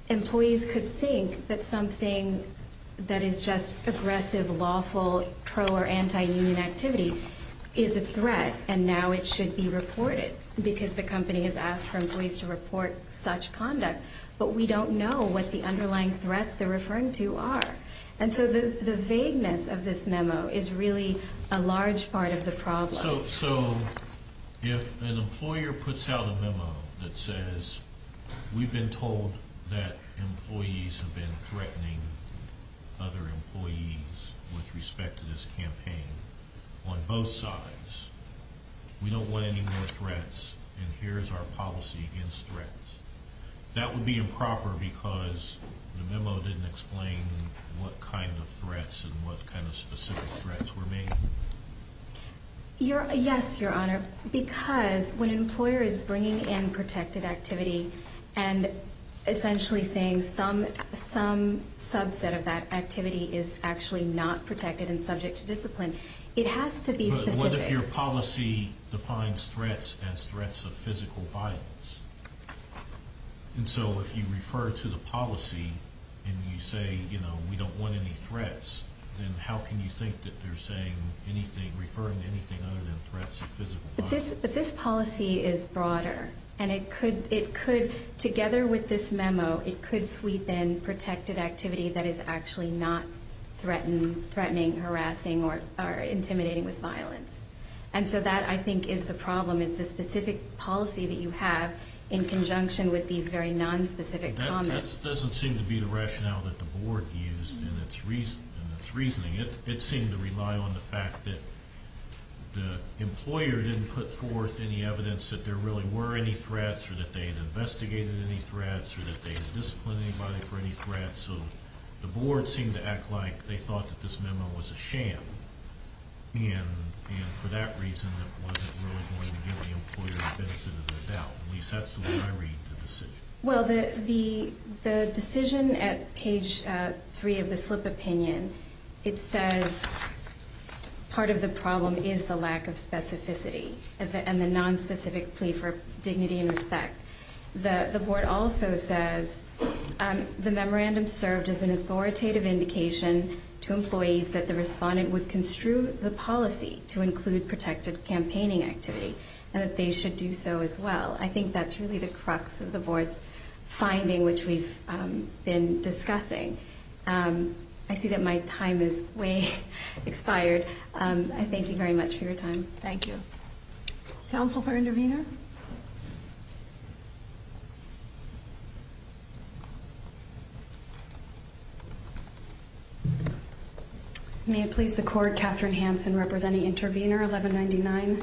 employees could think that something that is just aggressive, lawful, pro- or anti-union activity is a threat, and now it should be reported because the company has asked for employees to report such conduct. But we don't know what the underlying threats they're referring to are. And so the vagueness of this memo is really a large part of the problem. So if an employer puts out a memo that says we've been told that employees have been threatening other employees with respect to this campaign on both sides, we don't want any more threats, and here's our policy against threats, that would be improper because the memo didn't explain what kind of threats and what kind of specific threats were made. Yes, Your Honor, because when an employer is bringing in protected activity and essentially saying some subset of that activity is actually not protected and subject to discipline, it has to be specific. But what if your policy defines threats as threats of physical violence? And so if you refer to the policy and you say, you know, we don't want any threats, then how can you think that they're saying anything, referring to anything other than threats of physical violence? But this policy is broader, and it could, together with this memo, it could sweep in protected activity that is actually not threatening, harassing, or intimidating with violence. And so that, I think, is the problem, is the specific policy that you have in conjunction with these very nonspecific comments. That doesn't seem to be the rationale that the Board used in its reasoning. It seemed to rely on the fact that the employer didn't put forth any evidence that there really were any threats or that they had investigated any threats or that they had disciplined anybody for any threats. So the Board seemed to act like they thought that this memo was a sham, and for that reason it wasn't really going to give the employer the benefit of the doubt. At least that's the way I read the decision. Well, the decision at page 3 of the slip opinion, it says part of the problem is the lack of specificity and the nonspecific plea for dignity and respect. The Board also says the memorandum served as an authoritative indication to employees that the respondent would construe the policy to include protected campaigning activity and that they should do so as well. I think that's really the crux of the Board's finding, which we've been discussing. I see that my time has way expired. I thank you very much for your time. Thank you. Counsel for Intervenor? May it please the Court. I'm Katherine Hanson representing Intervenor 1199,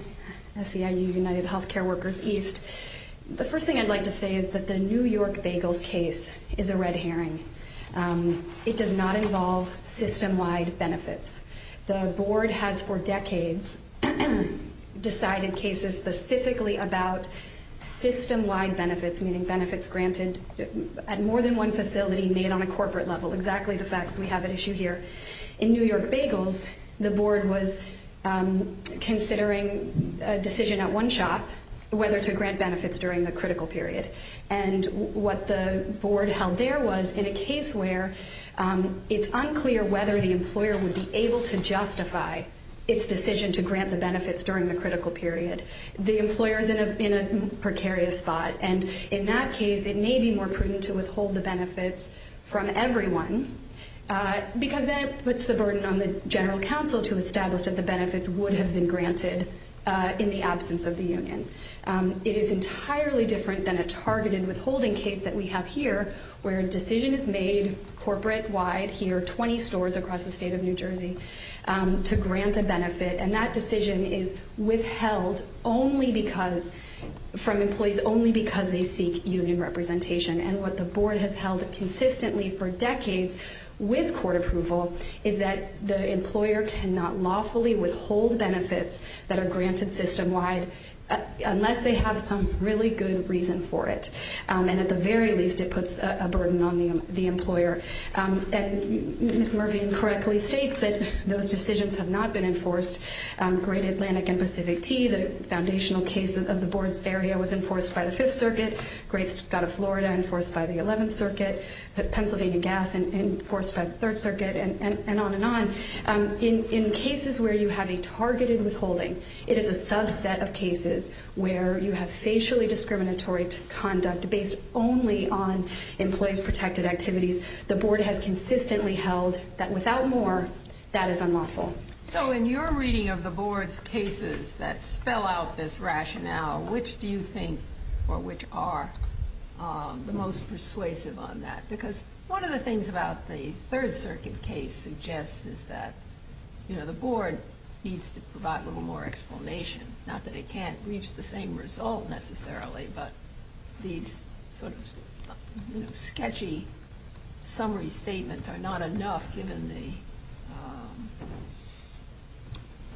SEIU United Healthcare Workers East. The first thing I'd like to say is that the New York Bagels case is a red herring. It does not involve system-wide benefits. The Board has for decades decided cases specifically about system-wide benefits, meaning benefits granted at more than one facility made on a corporate level, exactly the facts we have at issue here. In New York Bagels, the Board was considering a decision at one shop whether to grant benefits during the critical period. And what the Board held there was in a case where it's unclear whether the employer would be able to justify its decision to grant the benefits during the critical period. The employer is in a precarious spot, and in that case it may be more prudent to withhold the benefits from everyone because then it puts the burden on the general counsel to establish that the benefits would have been granted in the absence of the union. It is entirely different than a targeted withholding case that we have here where a decision is made corporate-wide here, 20 stores across the state of New Jersey, to grant a benefit. And that decision is withheld from employees only because they seek union representation. And what the Board has held consistently for decades with court approval is that the employer cannot lawfully withhold benefits that are granted system-wide unless they have some really good reason for it. And at the very least, it puts a burden on the employer. And Ms. Mervine correctly states that those decisions have not been enforced. Great Atlantic and Pacific Tea, the foundational case of the Board's area, was enforced by the Fifth Circuit. Great Scott of Florida, enforced by the Eleventh Circuit. Pennsylvania Gas, enforced by the Third Circuit, and on and on. In cases where you have a targeted withholding, it is a subset of cases where you have facially discriminatory conduct based only on employees' protected activities. The Board has consistently held that without more, that is unlawful. So in your reading of the Board's cases that spell out this rationale, which do you think or which are the most persuasive on that? Because one of the things about the Third Circuit case suggests is that, you know, the Board needs to provide a little more explanation. Not that it can't reach the same result necessarily, but these sort of, you know, sketchy summary statements are not enough given the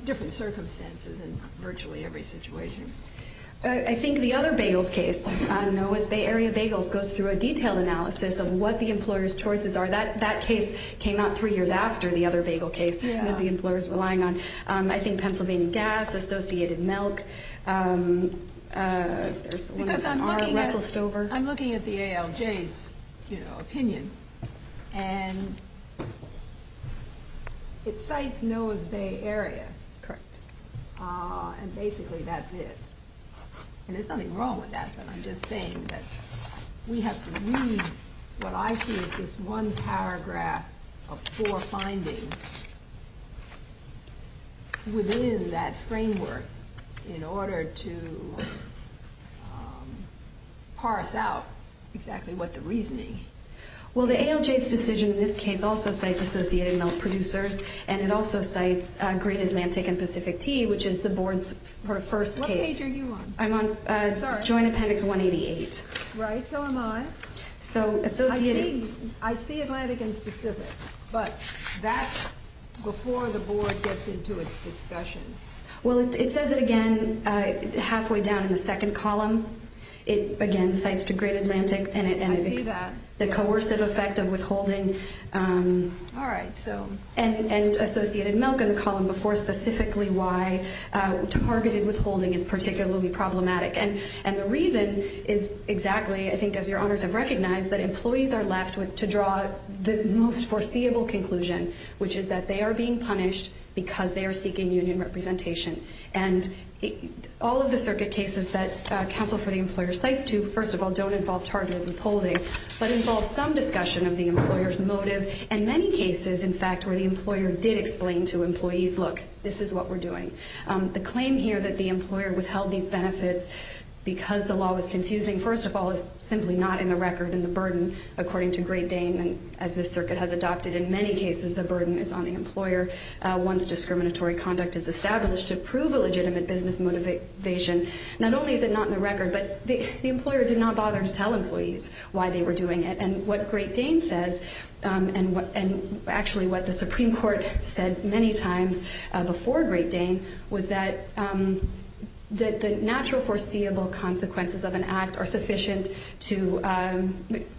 different circumstances in virtually every situation. I think the other bagels case, Norwest Bay Area Bagels, goes through a detailed analysis of what the employer's choices are. That case came out three years after the other bagel case that the employer's relying on. I think Pennsylvania Gas, Associated Milk, there's one from Russell Stover. Because I'm looking at the ALJ's, you know, opinion, and it cites Norwest Bay Area. Correct. And basically that's it. And there's nothing wrong with that, but I'm just saying that we have to read, what I see is this one paragraph of four findings within that framework in order to parse out exactly what the reasoning is. Well, the ALJ's decision in this case also cites Associated Milk producers, and it also cites Great Atlantic and Pacific Tea, which is the Board's first case. What page are you on? I'm on Joint Appendix 188. Right, so am I. I see Atlantic and Pacific, but that's before the Board gets into its discussion. Well, it says it again halfway down in the second column. It, again, cites to Great Atlantic. I see that. The coercive effect of withholding and Associated Milk in the column before specifically why targeted withholding is particularly problematic. And the reason is exactly, I think as your honors have recognized, that employees are left to draw the most foreseeable conclusion, which is that they are being punished because they are seeking union representation. And all of the circuit cases that counsel for the employer cites to, first of all, don't involve targeted withholding, but involve some discussion of the employer's motive, and many cases, in fact, where the employer did explain to employees, look, this is what we're doing. The claim here that the employer withheld these benefits because the law was confusing, first of all, is simply not in the record in the burden, according to Great Dane. As this circuit has adopted in many cases, the burden is on the employer once discriminatory conduct is established to prove a legitimate business motivation. Not only is it not in the record, but the employer did not bother to tell employees why they were doing it. And what Great Dane says, and actually what the Supreme Court said many times before Great Dane, was that the natural foreseeable consequences of an act are sufficient to, that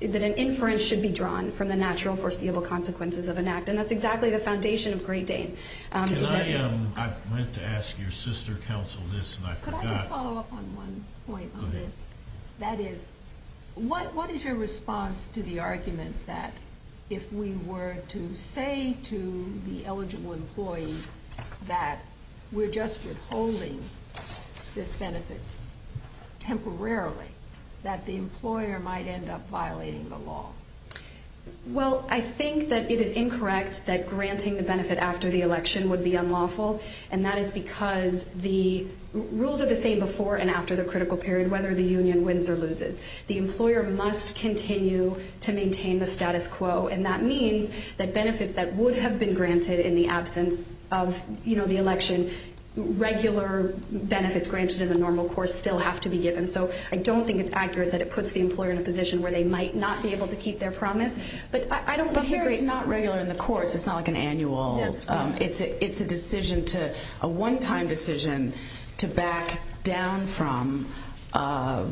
an inference should be drawn from the natural foreseeable consequences of an act. And that's exactly the foundation of Great Dane. Can I, I meant to ask your sister counsel this, and I forgot. Could I just follow up on one point on this? Go ahead. That is, what is your response to the argument that if we were to say to the eligible employees that we're just withholding this benefit temporarily, that the employer might end up violating the law? Well, I think that it is incorrect that granting the benefit after the election would be unlawful, and that is because the rules are the same before and after the critical period, whether the union wins or loses. The employer must continue to maintain the status quo, and that means that benefits that would have been granted in the absence of, you know, the election, regular benefits granted in the normal course still have to be given. So I don't think it's accurate that it puts the employer in a position where they might not be able to keep their promise. But I don't hear it's not regular in the course. It's not like an annual. It's a decision to, a one-time decision to back down from a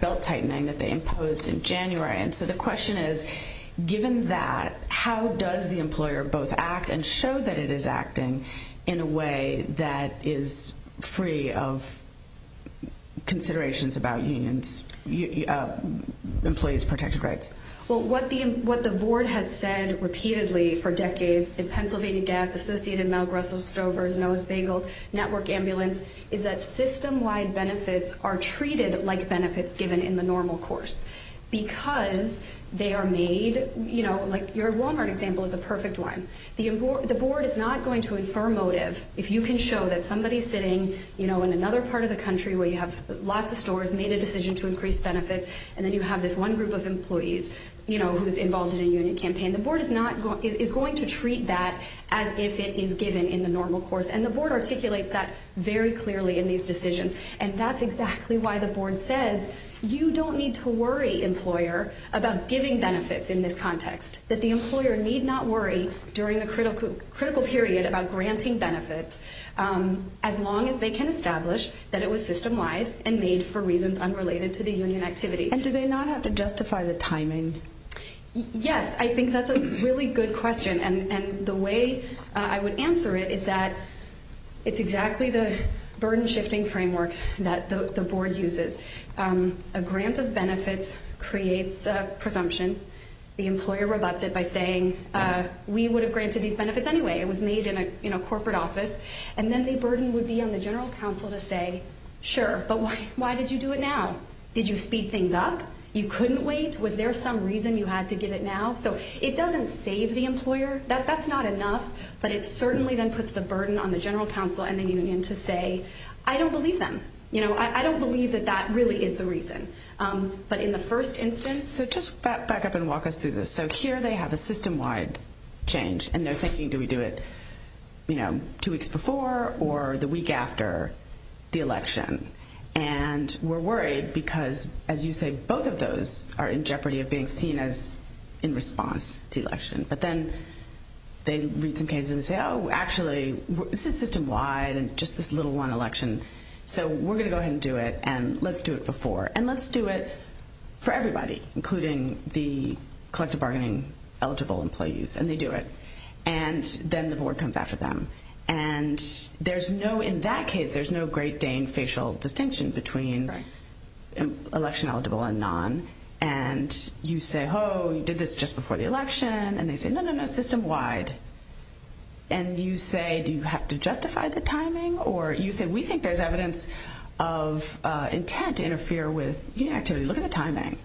belt tightening that they imposed in January. And so the question is, given that, how does the employer both act and show that it is acting in a way that is free of considerations about employees' protected rights? Well, what the board has said repeatedly for decades in Pennsylvania Gas, Associated, Mel Grussel, Stover's, Noah's Bagels, Network Ambulance, is that system-wide benefits are treated like benefits given in the normal course because they are made, you know, like your Walmart example is a perfect one. The board is not going to infer motive if you can show that somebody is sitting, you know, in another part of the country where you have lots of stores, made a decision to increase benefits, and then you have this one group of employees, you know, who's involved in a union campaign. The board is going to treat that as if it is given in the normal course. And the board articulates that very clearly in these decisions. And that's exactly why the board says you don't need to worry, employer, about giving benefits in this context, that the employer need not worry during a critical period about granting benefits as long as they can establish that it was system-wide and made for reasons unrelated to the union activity. And do they not have to justify the timing? Yes. I think that's a really good question. And the way I would answer it is that it's exactly the burden-shifting framework that the board uses. A grant of benefits creates a presumption. The employer rebuts it by saying we would have granted these benefits anyway. It was made in a corporate office. And then the burden would be on the general counsel to say, sure, but why did you do it now? Did you speed things up? You couldn't wait? Was there some reason you had to give it now? So it doesn't save the employer. That's not enough. But it certainly then puts the burden on the general counsel and the union to say, I don't believe them. You know, I don't believe that that really is the reason. But in the first instance. So just back up and walk us through this. So here they have a system-wide change. And they're thinking, do we do it, you know, two weeks before or the week after the election? And we're worried because, as you say, both of those are in jeopardy of being seen as in response to election. But then they read some cases and say, oh, actually, this is system-wide and just this little one election. So we're going to go ahead and do it, and let's do it before. And let's do it for everybody, including the collective bargaining eligible employees. And they do it. And then the board comes after them. And there's no, in that case, there's no great Dane facial distinction between election-eligible and non. And you say, oh, you did this just before the election. And they say, no, no, no, system-wide. And you say, do you have to justify the timing? Or you say, we think there's evidence of intent to interfere with union activity. Look at the timing.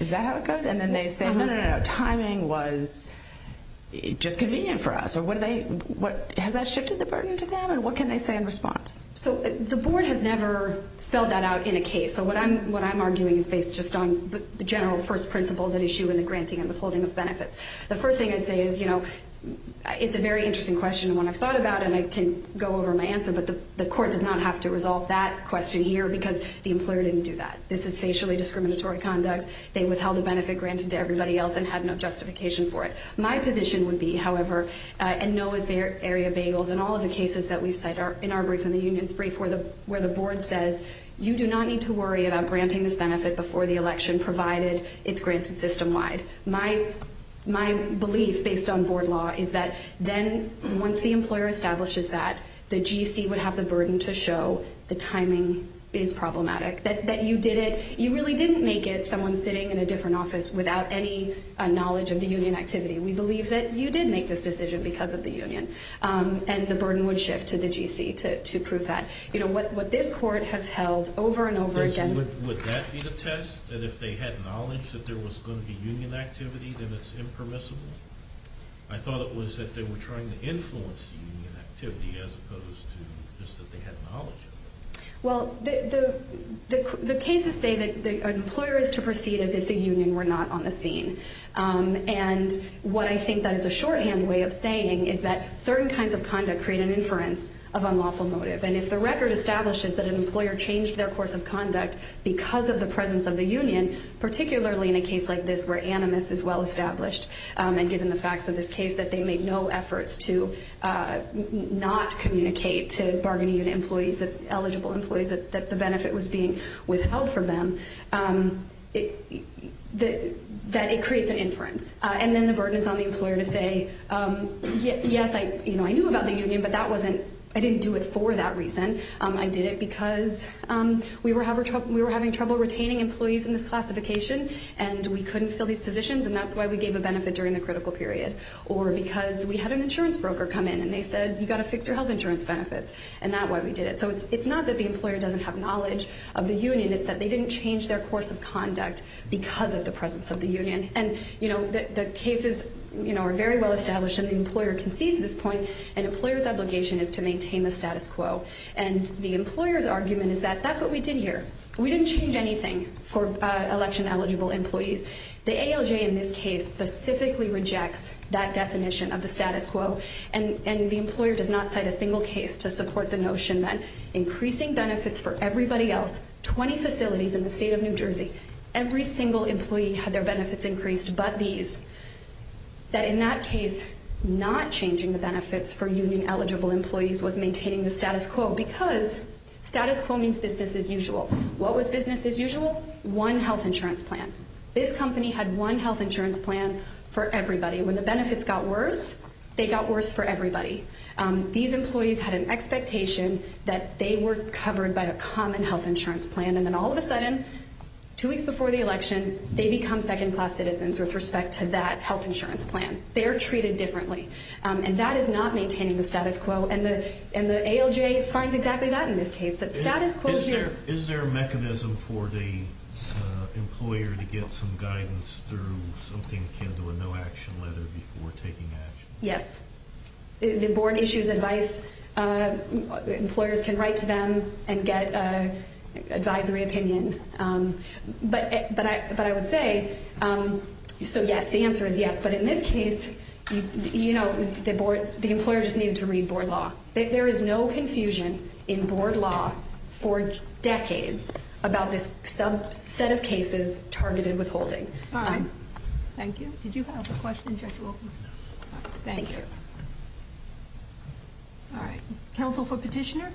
Is that how it goes? And then they say, no, no, no, no, timing was just convenient for us. Has that shifted the burden to them? And what can they say in response? So the board has never spelled that out in a case. So what I'm arguing is based just on the general first principles at issue in the granting and the holding of benefits. The first thing I'd say is, you know, it's a very interesting question. One I've thought about, and I can go over my answer. But the court does not have to resolve that question here because the employer didn't do that. This is facially discriminatory conduct. They withheld a benefit granted to everybody else and had no justification for it. My position would be, however, and know as Area Bagels, in all of the cases that we've cited in our brief and the union's brief where the board says, you do not need to worry about granting this benefit before the election, provided it's granted system-wide. My belief based on board law is that then once the employer establishes that, the GC would have the burden to show the timing is problematic, that you did it. You really didn't make it someone sitting in a different office without any knowledge of the union activity. We believe that you did make this decision because of the union. And the burden would shift to the GC to prove that. You know, what this court has held over and over again. Would that be the test, that if they had knowledge that there was going to be union activity, then it's impermissible? I thought it was that they were trying to influence the union activity as opposed to just that they had knowledge. Well, the cases say that an employer is to proceed as if the union were not on the scene. And what I think that is a shorthand way of saying is that certain kinds of conduct create an inference of unlawful motive. And if the record establishes that an employer changed their course of conduct because of the presence of the union, particularly in a case like this where animus is well established, and given the facts of this case that they made no efforts to not communicate to bargaining unit employees, the eligible employees, that the benefit was being withheld from them, that it creates an inference. And then the burden is on the employer to say, yes, I knew about the union, but I didn't do it for that reason. I did it because we were having trouble retaining employees in this classification, and we couldn't fill these positions, and that's why we gave a benefit during the critical period. Or because we had an insurance broker come in, and they said, you've got to fix your health insurance benefits, and that's why we did it. So it's not that the employer doesn't have knowledge of the union. It's that they didn't change their course of conduct because of the presence of the union. And the cases are very well established, and the employer can seize this point, and employers' obligation is to maintain the status quo. And the employer's argument is that that's what we did here. We didn't change anything for election-eligible employees. The ALJ in this case specifically rejects that definition of the status quo, and the employer does not cite a single case to support the notion that increasing benefits for everybody else, 20 facilities in the state of New Jersey, every single employee had their benefits increased but these, that in that case, not changing the benefits for union-eligible employees was maintaining the status quo because status quo means business as usual. What was business as usual? One health insurance plan. This company had one health insurance plan for everybody. When the benefits got worse, they got worse for everybody. These employees had an expectation that they were covered by a common health insurance plan, and then all of a sudden, two weeks before the election, they become second-class citizens with respect to that health insurance plan. They are treated differently, and that is not maintaining the status quo, and the ALJ finds exactly that in this case, that status quo is here. Is there a mechanism for the employer to get some guidance through something akin to a no-action letter before taking action? Yes. The board issues advice. Employers can write to them and get advisory opinion, but I would say, so yes, the answer is yes, but in this case, you know, the employer just needed to read board law. There is no confusion in board law for decades about this subset of cases targeted withholding. All right. Thank you. Did you have a question, Judge Wilkins? Thank you. All right. Counsel for petitioner?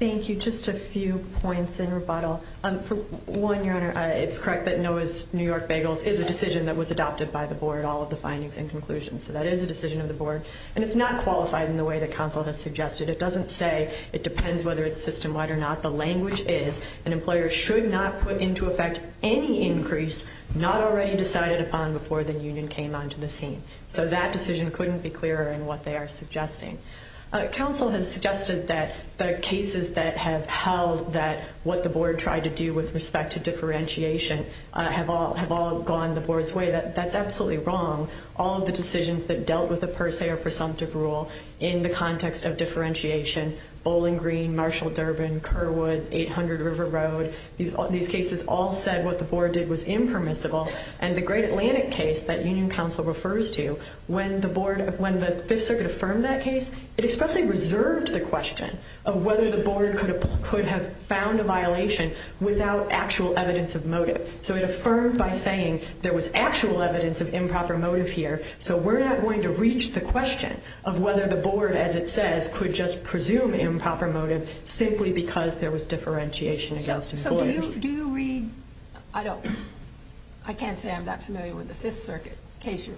Thank you. Just a few points in rebuttal. For one, Your Honor, it's correct that Noah's New York Bagels is a decision that was adopted by the board, all of the findings and conclusions, so that is a decision of the board, and it's not qualified in the way that counsel has suggested. It doesn't say it depends whether it's system-wide or not. The language is an employer should not put into effect any increase not already decided upon before the union came onto the scene, so that decision couldn't be clearer in what they are suggesting. Counsel has suggested that the cases that have held that what the board tried to do with respect to differentiation have all gone the board's way. That's absolutely wrong. All of the decisions that dealt with a per se or presumptive rule in the context of differentiation, Bowling Green, Marshall Durbin, Kerwood, 800 River Road, these cases all said what the board did was impermissible, and the Great Atlantic case that union counsel refers to, when the board, when the Fifth Circuit affirmed that case, it expressly reserved the question of whether the board could have found a violation without actual evidence of motive. So it affirmed by saying there was actual evidence of improper motive here, so we're not going to reach the question of whether the board, as it says, could just presume improper motive simply because there was differentiation against employers. So do you read, I don't, I can't say I'm that familiar with the Fifth Circuit case you're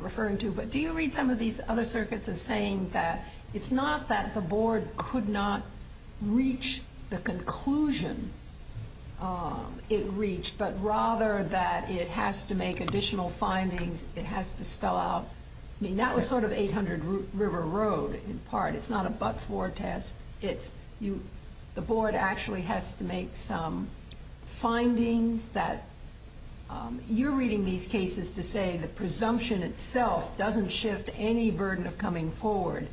referring to, but do you read some of these other circuits as saying that it's not that the board could not reach the conclusion it reached, but rather that it has to make additional findings, it has to spell out, I mean, that was sort of 800 River Road in part. It's not a but-for test. The board actually has to make some findings that you're reading these cases to say the presumption itself doesn't shift any burden of coming forward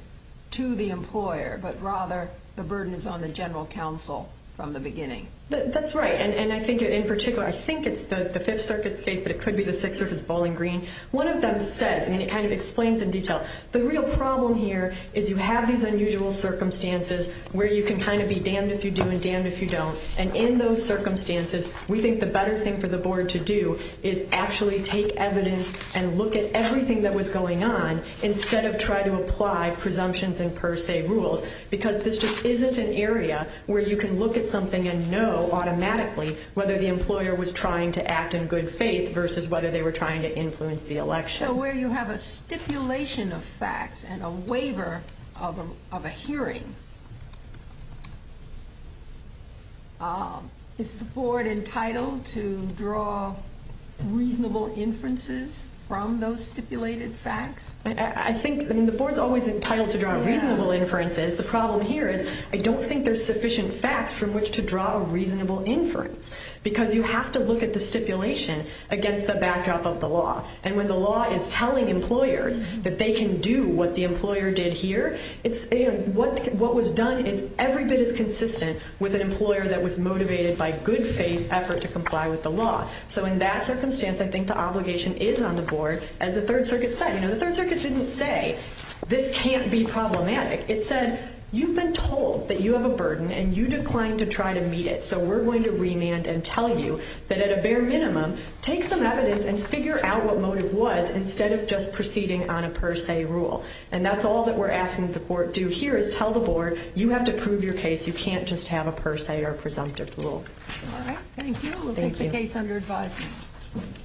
to the employer, but rather the burden is on the general counsel from the beginning. That's right, and I think in particular, I think it's the Fifth Circuit's case, but it could be the Sixth Circuit's bowling green. One of them says, and it kind of explains in detail, the real problem here is you have these unusual circumstances where you can kind of be damned if you do and damned if you don't, and in those circumstances, we think the better thing for the board to do is actually take evidence and look at everything that was going on instead of try to apply presumptions and per se rules, because this just isn't an area where you can look at something and know automatically whether the employer was trying to act in good faith versus whether they were trying to influence the election. So where you have a stipulation of facts and a waiver of a hearing, is the board entitled to draw reasonable inferences from those stipulated facts? I think, I mean, the board's always entitled to draw reasonable inferences. The problem here is I don't think there's sufficient facts from which to draw a reasonable inference, because you have to look at the stipulation against the backdrop of the law, and when the law is telling employers that they can do what the employer did here, what was done is every bit as consistent with an employer that was motivated by good faith effort to comply with the law. So in that circumstance, I think the obligation is on the board, as the Third Circuit said. I know the Third Circuit didn't say, this can't be problematic. It said, you've been told that you have a burden and you declined to try to meet it, so we're going to remand and tell you that at a bare minimum, take some evidence and figure out what motive was instead of just proceeding on a per se rule. And that's all that we're asking that the board do here is tell the board, you have to prove your case, you can't just have a per se or presumptive rule. All right, thank you. We'll take the case under advisory.